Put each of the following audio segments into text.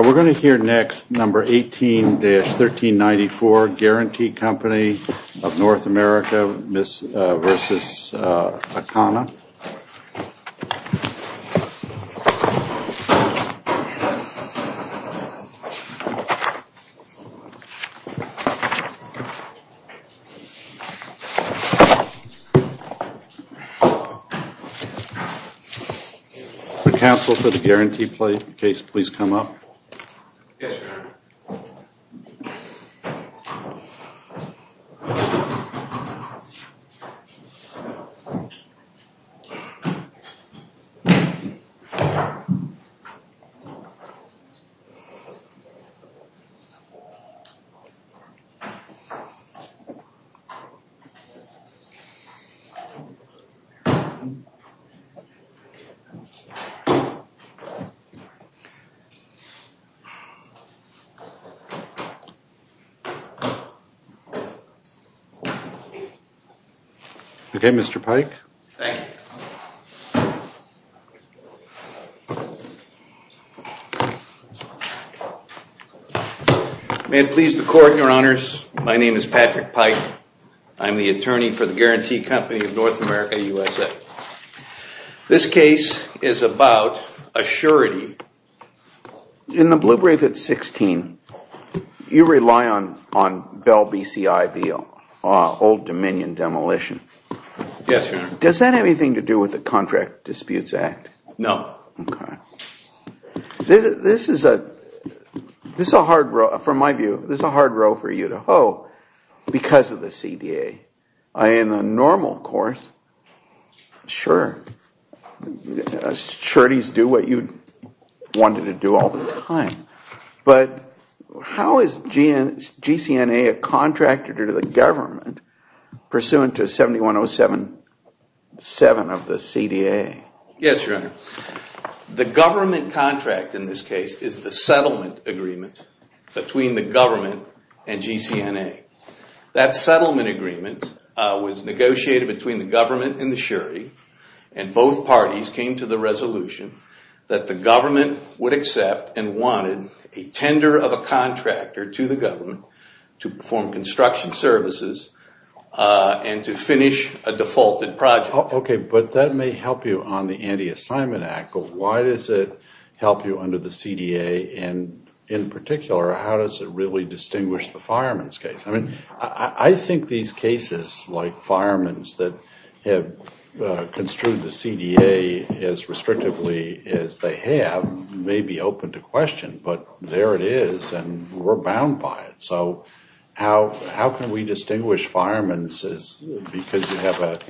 We're going to hear next, number 18-1394, Guarantee Company of North America v. Ikhana. Council, for the Guarantee case, please come up. Yes, sir. Yes, sir. Okay, Mr. Pike. May it please the Court, Your Honors, my name is Patrick Pike. I'm the attorney for the Guarantee Company of North America USA. This case is about assurity. In the Blue Brief at 16, you rely on Bell BCI v. Old Dominion demolition. Yes, Your Honor. Does that have anything to do with the Contract Disputes Act? No. Okay. This is a hard row, from my view, this is a hard row for you to hoe because of the CDA. In the normal course, sure, sureties do what you wanted to do all the time. But how is GCNA a contractor to the government pursuant to 7107-7 of the CDA? Yes, Your Honor. The government contract in this case is the settlement agreement between the government and GCNA. That settlement agreement was negotiated between the government and the surety, and both parties came to the resolution that the government would accept and wanted a tender of a contractor to the government to perform construction services and to finish a defaulted project. Okay, but that may help you on the Anti-Assignment Act, but why does it help you under the CDA? And in particular, how does it really distinguish the fireman's case? I mean, I think these cases like fireman's that have construed the CDA as restrictively as they have may be open to question, but there it is, and we're bound by it. So how can we distinguish fireman's because you have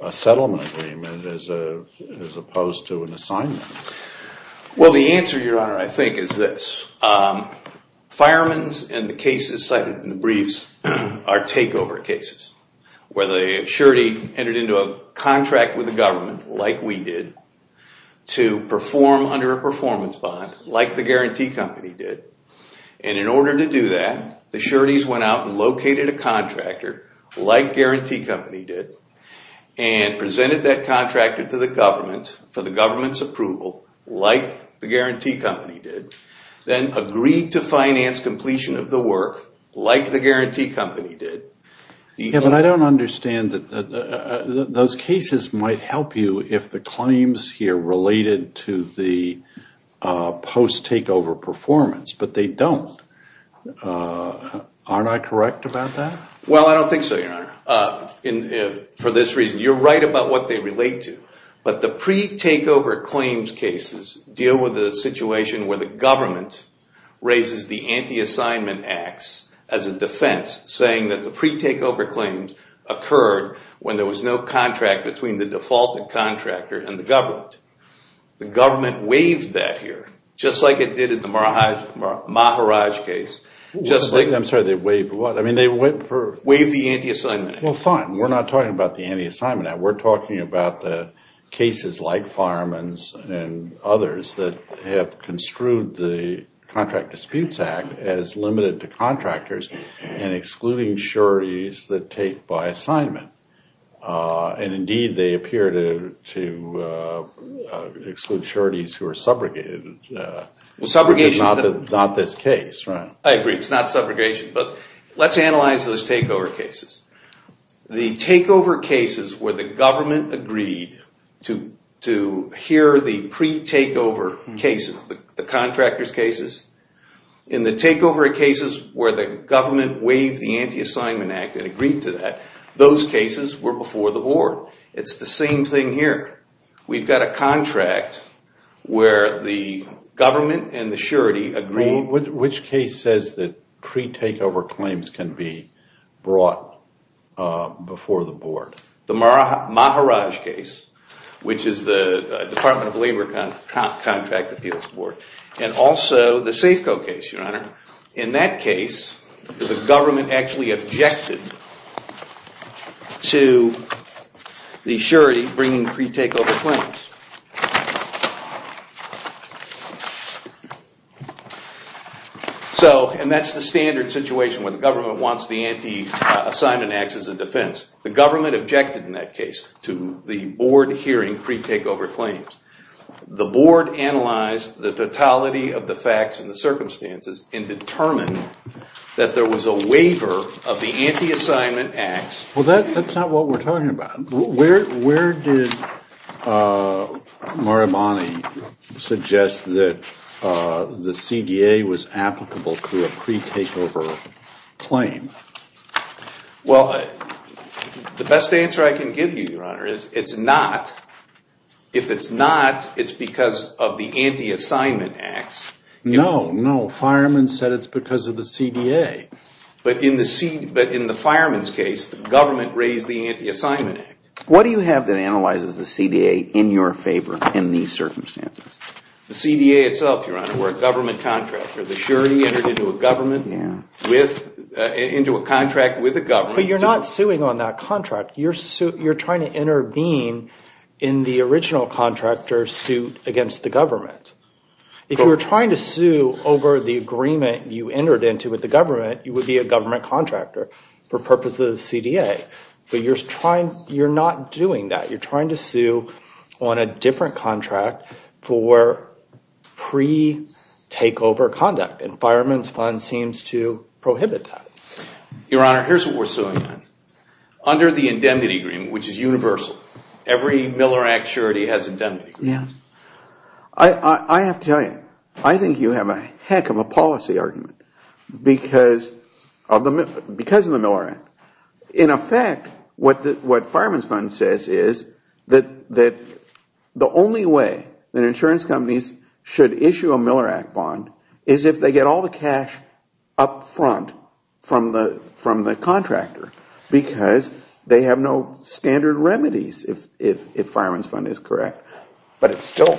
a settlement agreement as opposed to an assignment? Well, the answer, Your Honor, I think is this. Fireman's and the cases cited in the briefs are takeover cases where the surety entered into a contract with the government like we did to perform under a performance bond like the guarantee company did. And in order to do that, the sureties went out and located a contractor like guarantee company did and presented that contractor to the government for the government's approval like the guarantee company did, then agreed to finance completion of the work like the guarantee company did. Yeah, but I don't understand that those cases might help you if the claims here related to the post-takeover performance, but they don't. Aren't I correct about that? Well, I don't think so, Your Honor, for this reason. You're right about what they relate to, but the pre-takeover claims cases deal with the situation where the government raises the anti-assignment acts as a defense saying that the pre-takeover claims occurred when there was no contract between the defaulted contractor and the government. The government waived that here just like it did in the Maharaj case. Waive the anti-assignment act? Well, fine. We're not talking about the anti-assignment act. We're talking about the cases like Fireman's and others that have construed the Contract Disputes Act as limited to contractors and excluding sureties that take by assignment. Indeed, they appear to exclude sureties who are subrogated. Subrogation is not this case, right? I agree. It's not subrogation, but let's analyze those takeover cases. The takeover cases where the government agreed to hear the pre-takeover cases, the contractor's cases, and the takeover cases where the government waived the anti-assignment act and agreed to that, those cases were before the board. It's the same thing here. We've got a contract where the government and the surety agreed. Which case says that pre-takeover claims can be brought before the board? The Maharaj case, which is the Department of Labor Contract Appeals Board, and also the Safeco case, Your Honor. In that case, the government actually objected to the surety bringing pre-takeover claims. And that's the standard situation where the government wants the anti-assignment act as a defense. The government objected in that case to the board hearing pre-takeover claims. The board analyzed the totality of the facts and the circumstances and determined that there was a waiver of the anti-assignment act. Well, that's not what we're talking about. Where did Muramani suggest that the CDA was applicable to a pre-takeover claim? Well, the best answer I can give you, Your Honor, is it's not. If it's not, it's because of the anti-assignment act. No, no. Fireman said it's because of the CDA. But in the fireman's case, the government raised the anti-assignment act. What do you have that analyzes the CDA in your favor in these circumstances? The CDA itself, Your Honor. We're a government contractor. The surety entered into a contract with the government. But you're not suing on that contract. You're trying to intervene in the original contractor's suit against the government. If you were trying to sue over the agreement you entered into with the government, you would be a government contractor for purposes of the CDA. But you're not doing that. You're trying to sue on a different contract for pre-takeover conduct. And fireman's fund seems to prohibit that. Your Honor, here's what we're suing on. Under the indemnity agreement, which is universal, every Miller Act surety has indemnity agreements. I have to tell you, I think you have a heck of a policy argument because of the Miller Act. In effect, what fireman's fund says is that the only way that insurance companies should issue a Miller Act bond is if they get all the cash up front from the contractor. Because they have no standard remedies if fireman's fund is correct. But it's still,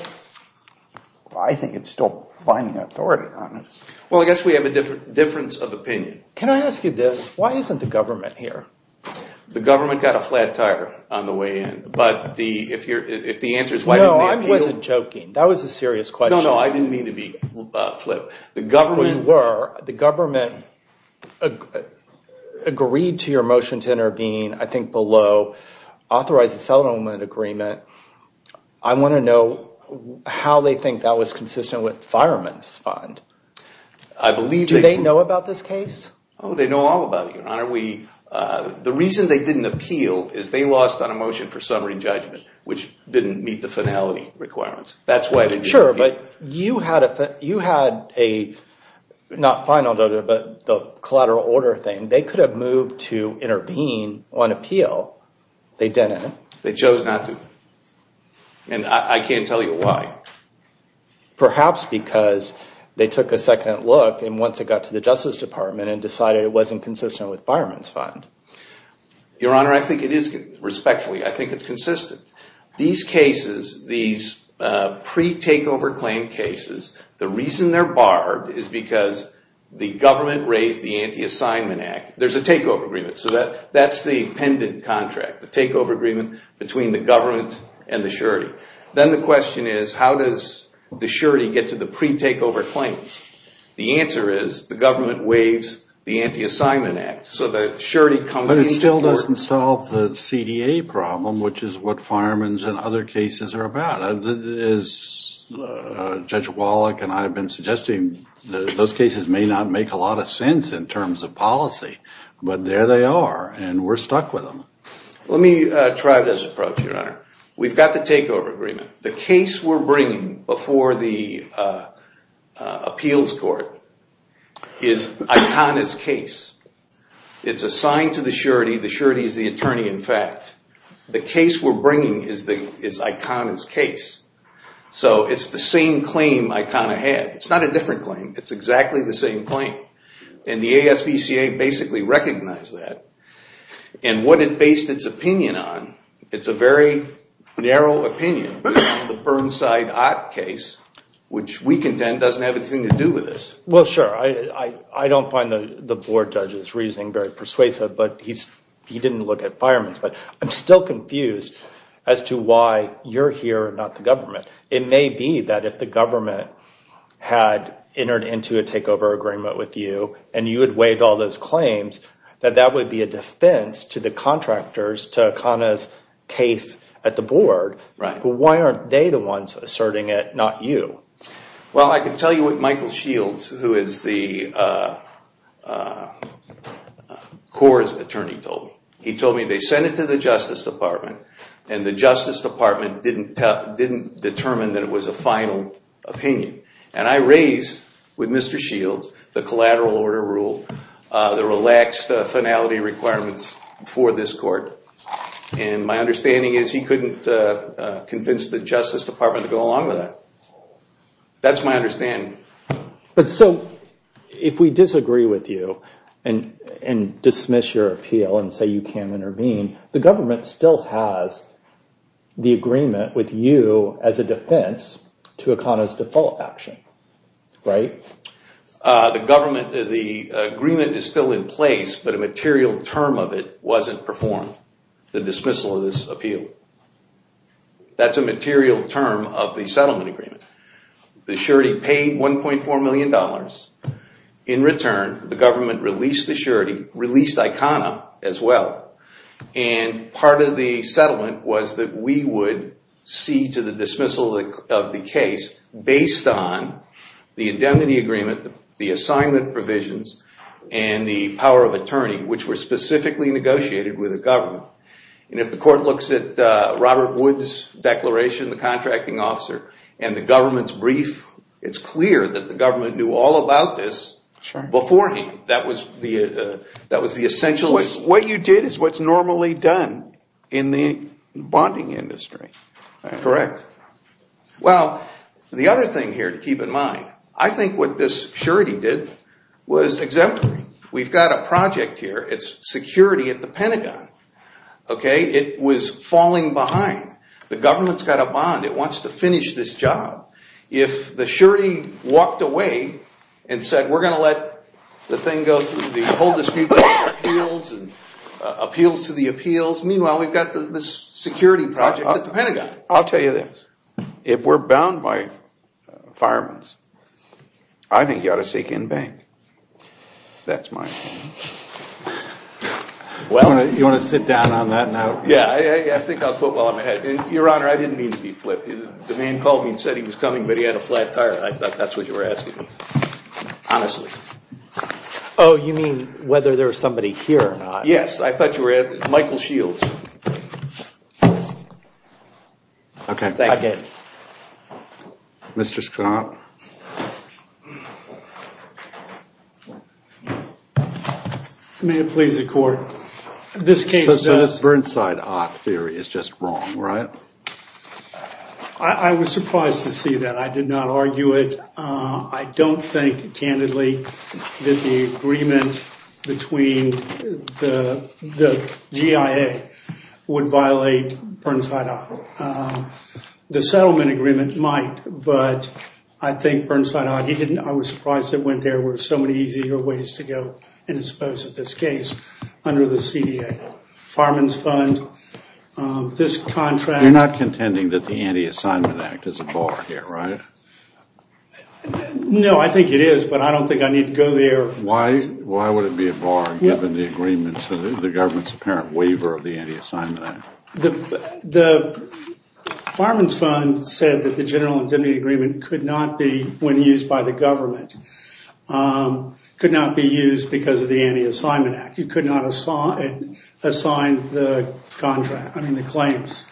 I think it's still finding authority on this. Well, I guess we have a difference of opinion. Can I ask you this? Why isn't the government here? The government got a flat tire on the way in. But if the answer is why didn't they appeal? No, I wasn't joking. That was a serious question. No, no, I didn't mean to be flip. The government agreed to your motion to intervene, I think below, authorize the settlement agreement. I want to know how they think that was consistent with fireman's fund. Do they know about this case? Oh, they know all about it, Your Honor. The reason they didn't appeal is they lost on a motion for summary judgment, which didn't meet the finality requirements. Sure, but you had a, not final, but the collateral order thing. They could have moved to intervene on appeal. They didn't. They chose not to. And I can't tell you why. Perhaps because they took a second look and once it got to the Justice Department and decided it wasn't consistent with fireman's fund. Your Honor, I think it is, respectfully, I think it's consistent. These cases, these pre-takeover claim cases, the reason they're barred is because the government raised the anti-assignment act. There's a takeover agreement, so that's the pendant contract, the takeover agreement between the government and the surety. Then the question is, how does the surety get to the pre-takeover claims? The answer is, the government waives the anti-assignment act, so the surety comes in. But it still doesn't solve the CDA problem, which is what fireman's and other cases are about. As Judge Wallach and I have been suggesting, those cases may not make a lot of sense in terms of policy, but there they are, and we're stuck with them. Let me try this approach, Your Honor. We've got the takeover agreement. The case we're bringing before the appeals court is Icona's case. It's assigned to the surety, the surety is the attorney in fact. The case we're bringing is Icona's case, so it's the same claim Icona had. It's not a different claim, it's exactly the same claim. And the ASPCA basically recognized that. And what it based its opinion on, it's a very narrow opinion, the Burnside Ott case, which we contend doesn't have anything to do with this. Well, sure, I don't find the board judge's reasoning very persuasive, but he didn't look at fireman's. But I'm still confused as to why you're here and not the government. It may be that if the government had entered into a takeover agreement with you, and you had waived all those claims, that that would be a defense to the contractors to Icona's case at the board. But why aren't they the ones asserting it, not you? Well, I can tell you what Michael Shields, who is the court's attorney, told me. He told me they sent it to the Justice Department, and the Justice Department didn't determine that it was a final opinion. And I raised with Mr. Shields the collateral order rule, the relaxed finality requirements for this court. And my understanding is he couldn't convince the Justice Department to go along with that. That's my understanding. So if we disagree with you and dismiss your appeal and say you can't intervene, the government still has the agreement with you as a defense to Icona's default action, right? The agreement is still in place, but a material term of it wasn't performed, the dismissal of this appeal. That's a material term of the settlement agreement. The surety paid $1.4 million. In return, the government released the surety, released Icona as well. And part of the settlement was that we would see to the dismissal of the case based on the indemnity agreement, the assignment provisions, and the power of attorney, which were specifically negotiated with the government. And if the court looks at Robert Wood's declaration, the contracting officer, and the government's brief, it's clear that the government knew all about this before he. That was the essential. What you did is what's normally done in the bonding industry. Correct. Well, the other thing here to keep in mind, I think what this surety did was exempt me. We've got a project here. It's security at the Pentagon, okay? It was falling behind. The government's got a bond. It wants to finish this job. If the surety walked away and said, we're going to let the thing go through the whole dispute of appeals and appeals to the appeals, meanwhile, we've got this security project at the Pentagon. I'll tell you this. If we're bound by firearms, I think you ought to seek in bank. That's my opinion. You want to sit down on that now? Yeah, I think I'll foot while I'm ahead. Your Honor, I didn't mean to be flippant. The man called me and said he was coming, but he had a flat tire. I thought that's what you were asking. Honestly. Oh, you mean whether there's somebody here or not? Yes, I thought you were asking. Michael Shields. Okay, I get it. Mr. Scott. May it please the court. So this Burnside Ott theory is just wrong, right? I was surprised to see that. I did not argue it. I don't think, candidly, that the agreement between the GIA would violate Burnside Ott. The settlement agreement might, but I think Burnside Ott, I was surprised that when there were so many easier ways to go and expose this case under the CDA. Fireman's fund, this contract. You're not contending that the Anti-Assignment Act is a bar here, right? No, I think it is, but I don't think I need to go there. Why would it be a bar given the agreement to the government's apparent waiver of the Anti-Assignment Act? The fireman's fund said that the general indemnity agreement could not be, when used by the government, could not be used because of the Anti-Assignment Act. You could not assign the contract, I mean the claims.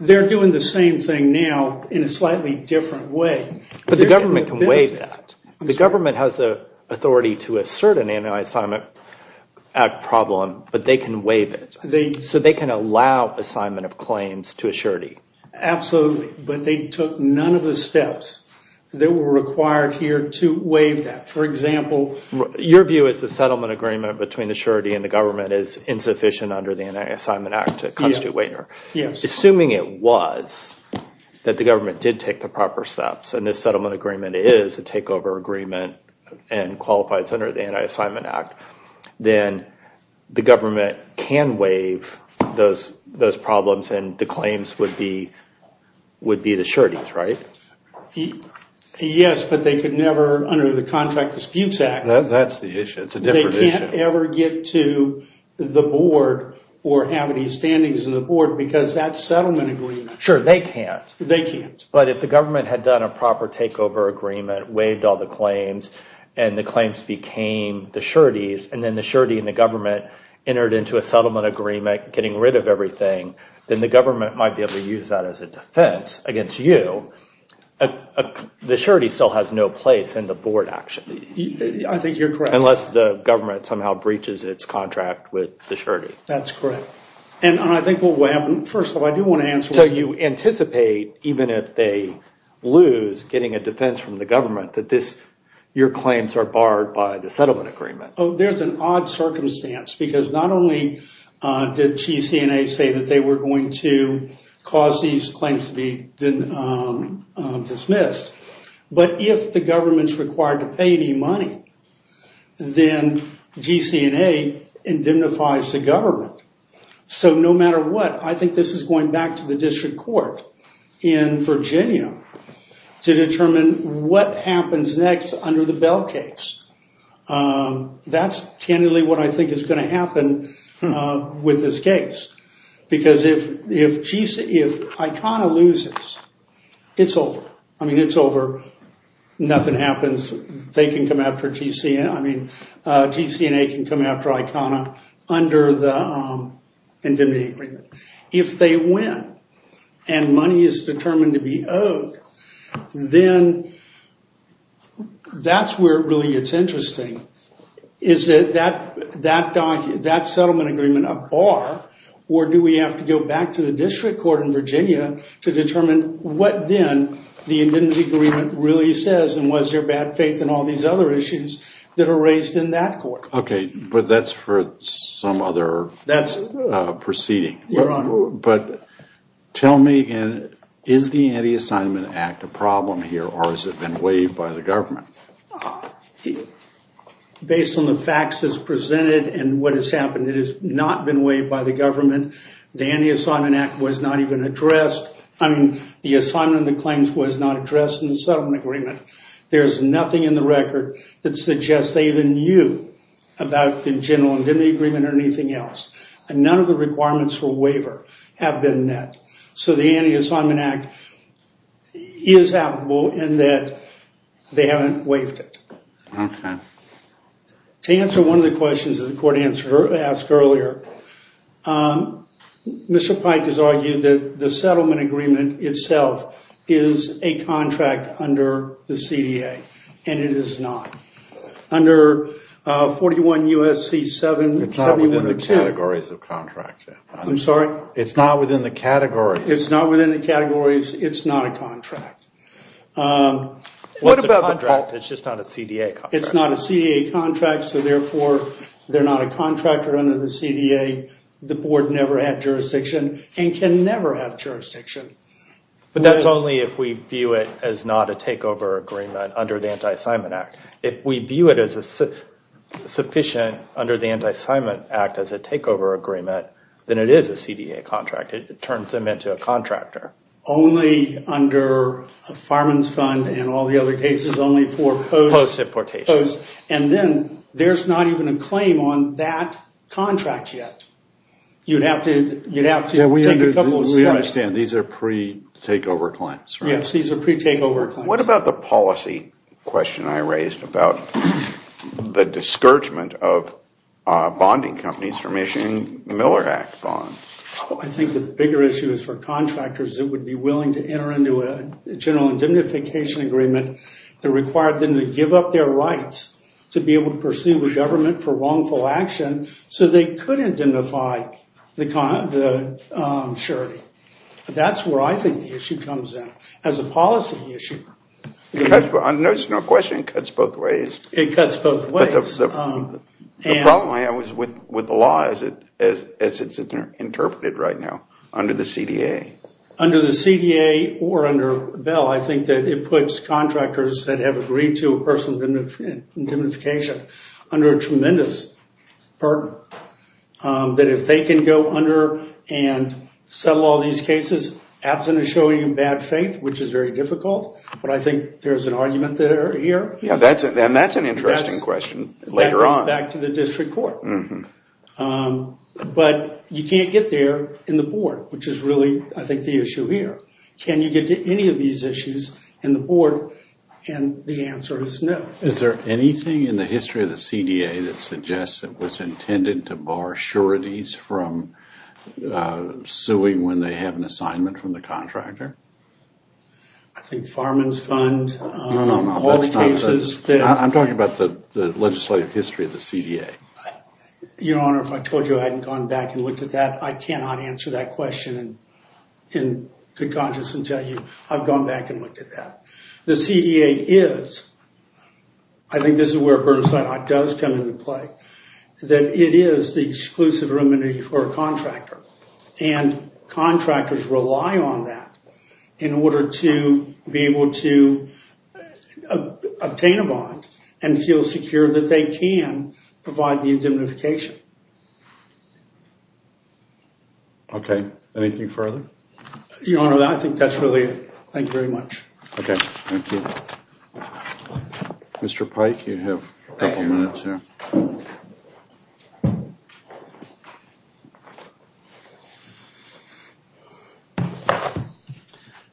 They're doing the same thing now in a slightly different way. But the government can waive that. The government has the authority to assert an Anti-Assignment Act problem, but they can waive it. So they can allow assignment of claims to a surety. Absolutely, but they took none of the steps that were required here to waive that. For example, Your view is the settlement agreement between the surety and the government is insufficient under the Anti-Assignment Act to constitute waiver. Assuming it was, that the government did take the proper steps, and this settlement agreement is a takeover agreement and qualifies under the Anti-Assignment Act, then the government can waive those problems and the claims would be the sureties, right? Yes, but they could never, under the Contract Disputes Act, That's the issue, it's a different issue. They can't ever get to the board or have any standings in the board because that's settlement agreement. Sure, they can't. They can't. But if the government had done a proper takeover agreement, waived all the claims, and the claims became the sureties, and then the surety and the government entered into a settlement agreement getting rid of everything, then the government might be able to use that as a defense against you. The surety still has no place in the board, actually. I think you're correct. Unless the government somehow breaches its contract with the surety. That's correct. And I think what will happen, first of all, I do want to answer. So you anticipate, even if they lose getting a defense from the government, that your claims are barred by the settlement agreement. Oh, there's an odd circumstance, because not only did GC&A say that they were going to cause these claims to be dismissed, but if the government's required to pay any money, then GC&A indemnifies the government. So no matter what, I think this is going back to the district court in Virginia to determine what happens next under the Bell case. That's tentatively what I think is going to happen with this case. Because if ICANA loses, it's over. I mean, it's over. Nothing happens. They can come after GC&A. I mean, GC&A can come after ICANA under the indemnity agreement. If they win and money is determined to be owed, then that's where it really gets interesting. Is that settlement agreement a bar, or do we have to go back to the district court in Virginia to determine what then the indemnity agreement really says, and was there bad faith in all these other issues that are raised in that court? Okay, but that's for some other proceeding. Your Honor. But tell me, is the Anti-Assignment Act a problem here, or has it been waived by the government? Based on the facts as presented and what has happened, it has not been waived by the government. The Anti-Assignment Act was not even addressed. I mean, the assignment and the claims was not addressed in the settlement agreement. There's nothing in the record that suggests they even knew about the general indemnity agreement or anything else. None of the requirements for waiver have been met. So the Anti-Assignment Act is applicable in that they haven't waived it. Okay. To answer one of the questions that the court asked earlier, Mr. Pike has argued that the settlement agreement itself is a contract under the CDA, and it is not. Under 41 U.S.C. 7102. It's not within the categories of contracts. I'm sorry? It's not within the categories. It's not within the categories. It's not a contract. What about the contract? It's just not a CDA contract. It's not a CDA contract, so therefore they're not a contractor under the CDA. The board never had jurisdiction and can never have jurisdiction. But that's only if we view it as not a takeover agreement under the Anti-Assignment Act. If we view it as sufficient under the Anti-Assignment Act as a takeover agreement, then it is a CDA contract. It turns them into a contractor. Only under a fireman's fund and all the other cases, only for post. Post importation. Post. And then there's not even a claim on that contract yet. You'd have to take a couple of steps. We understand. These are pre-takeover claims. Yes, these are pre-takeover claims. What about the policy question I raised about the discouragement of bonding companies from issuing Miller Act bonds? I think the bigger issue is for contractors that would be willing to enter into a general indemnification agreement that required them to give up their rights to be able to pursue the government for wrongful action so they could identify the surety. That's where I think the issue comes in as a policy issue. There's no question it cuts both ways. It cuts both ways. The problem I have is with the law as it's interpreted right now under the CDA. Or under Bell, I think that it puts contractors that have agreed to a personal indemnification under a tremendous burden. That if they can go under and settle all these cases, absent of showing bad faith, which is very difficult, but I think there's an argument there. And that's an interesting question later on. That goes back to the district court. But you can't get there in the board, which is really, I think, the issue here. Can you get to any of these issues in the board? And the answer is no. Is there anything in the history of the CDA that suggests it was intended to bar sureties from suing when they have an assignment from the contractor? I think Farman's Fund, all the cases. I'm talking about the legislative history of the CDA. Your Honor, if I told you I hadn't gone back and looked at that, I cannot answer that question in good conscience and tell you I've gone back and looked at that. The CDA is, I think this is where Burnside does come into play, that it is the exclusive remedy for a contractor. And contractors rely on that in order to be able to obtain a bond and feel secure that they can provide the indemnification. Okay, anything further? Your Honor, I think that's really it. Thank you very much. Okay, thank you. Mr. Pike, you have a couple minutes here.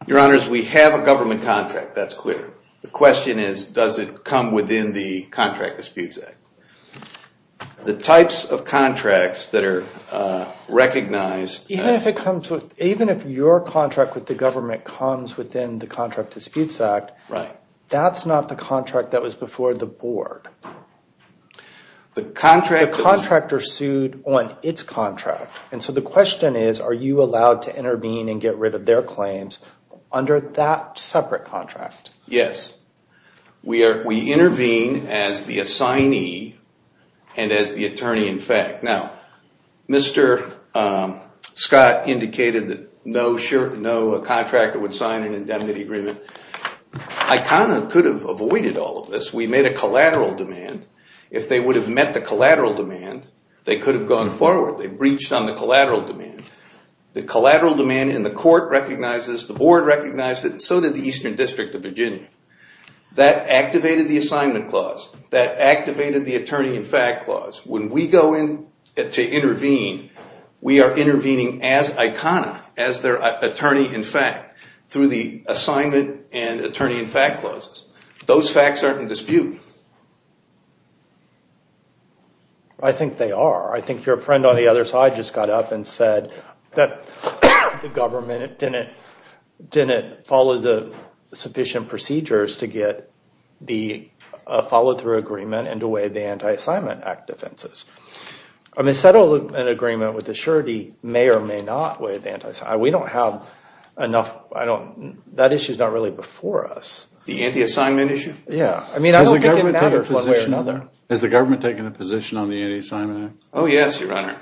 Your Honors, we have a government contract, that's clear. The question is, does it come within the Contract Disputes Act? The types of contracts that are recognized... Even if your contract with the government comes within the Contract Disputes Act, that's not the contract that was before the board. The contractor sued on its contract. And so the question is, are you allowed to intervene and get rid of their claims under that separate contract? Yes. We intervene as the assignee and as the attorney-in-fact. Now, Mr. Scott indicated that no contractor would sign an indemnity agreement. I kind of could have avoided all of this. We made a collateral demand. If they would have met the collateral demand, they could have gone forward. They breached on the collateral demand. The collateral demand in the court recognizes, the board recognizes, and so did the Eastern District of Virginia. That activated the assignment clause. That activated the attorney-in-fact clause. When we go in to intervene, we are intervening as ICANA, as their attorney-in-fact, through the assignment and attorney-in-fact clauses. Those facts aren't in dispute. I think they are. I think your friend on the other side just got up and said that the government didn't follow the sufficient procedures to get the follow-through agreement and to waive the Anti-Assignment Act defenses. I mean, settling an agreement with the surety may or may not waive the Anti-Assignment Act. We don't have enough. That issue is not really before us. The Anti-Assignment Issue? I mean, I don't think it matters one way or another. Has the government taken a position on the Anti-Assignment Act? Oh, yes, Your Honor.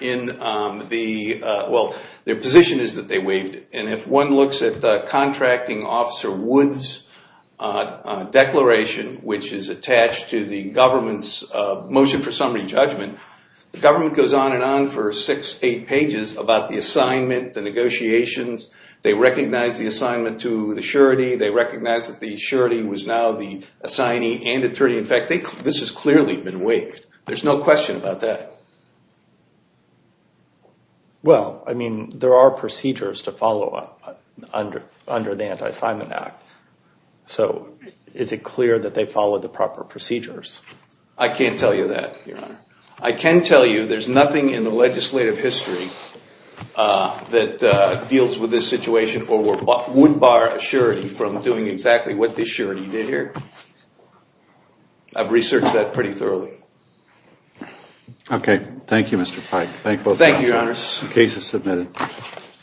Well, their position is that they waived it. And if one looks at Contracting Officer Wood's declaration, which is attached to the government's motion for summary judgment, the government goes on and on for six, eight pages about the assignment, the negotiations. They recognize the assignment to the surety. They recognize that the surety was now the assignee and attorney-in-fact. This has clearly been waived. There's no question about that. Well, I mean, there are procedures to follow under the Anti-Assignment Act. So is it clear that they followed the proper procedures? I can't tell you that, Your Honor. I can tell you there's nothing in the legislative history that deals with this situation or would bar a surety from doing exactly what this surety did here. I've researched that pretty thoroughly. Okay. Thank you, Mr. Pike. Thank you, Your Honor. The case is submitted.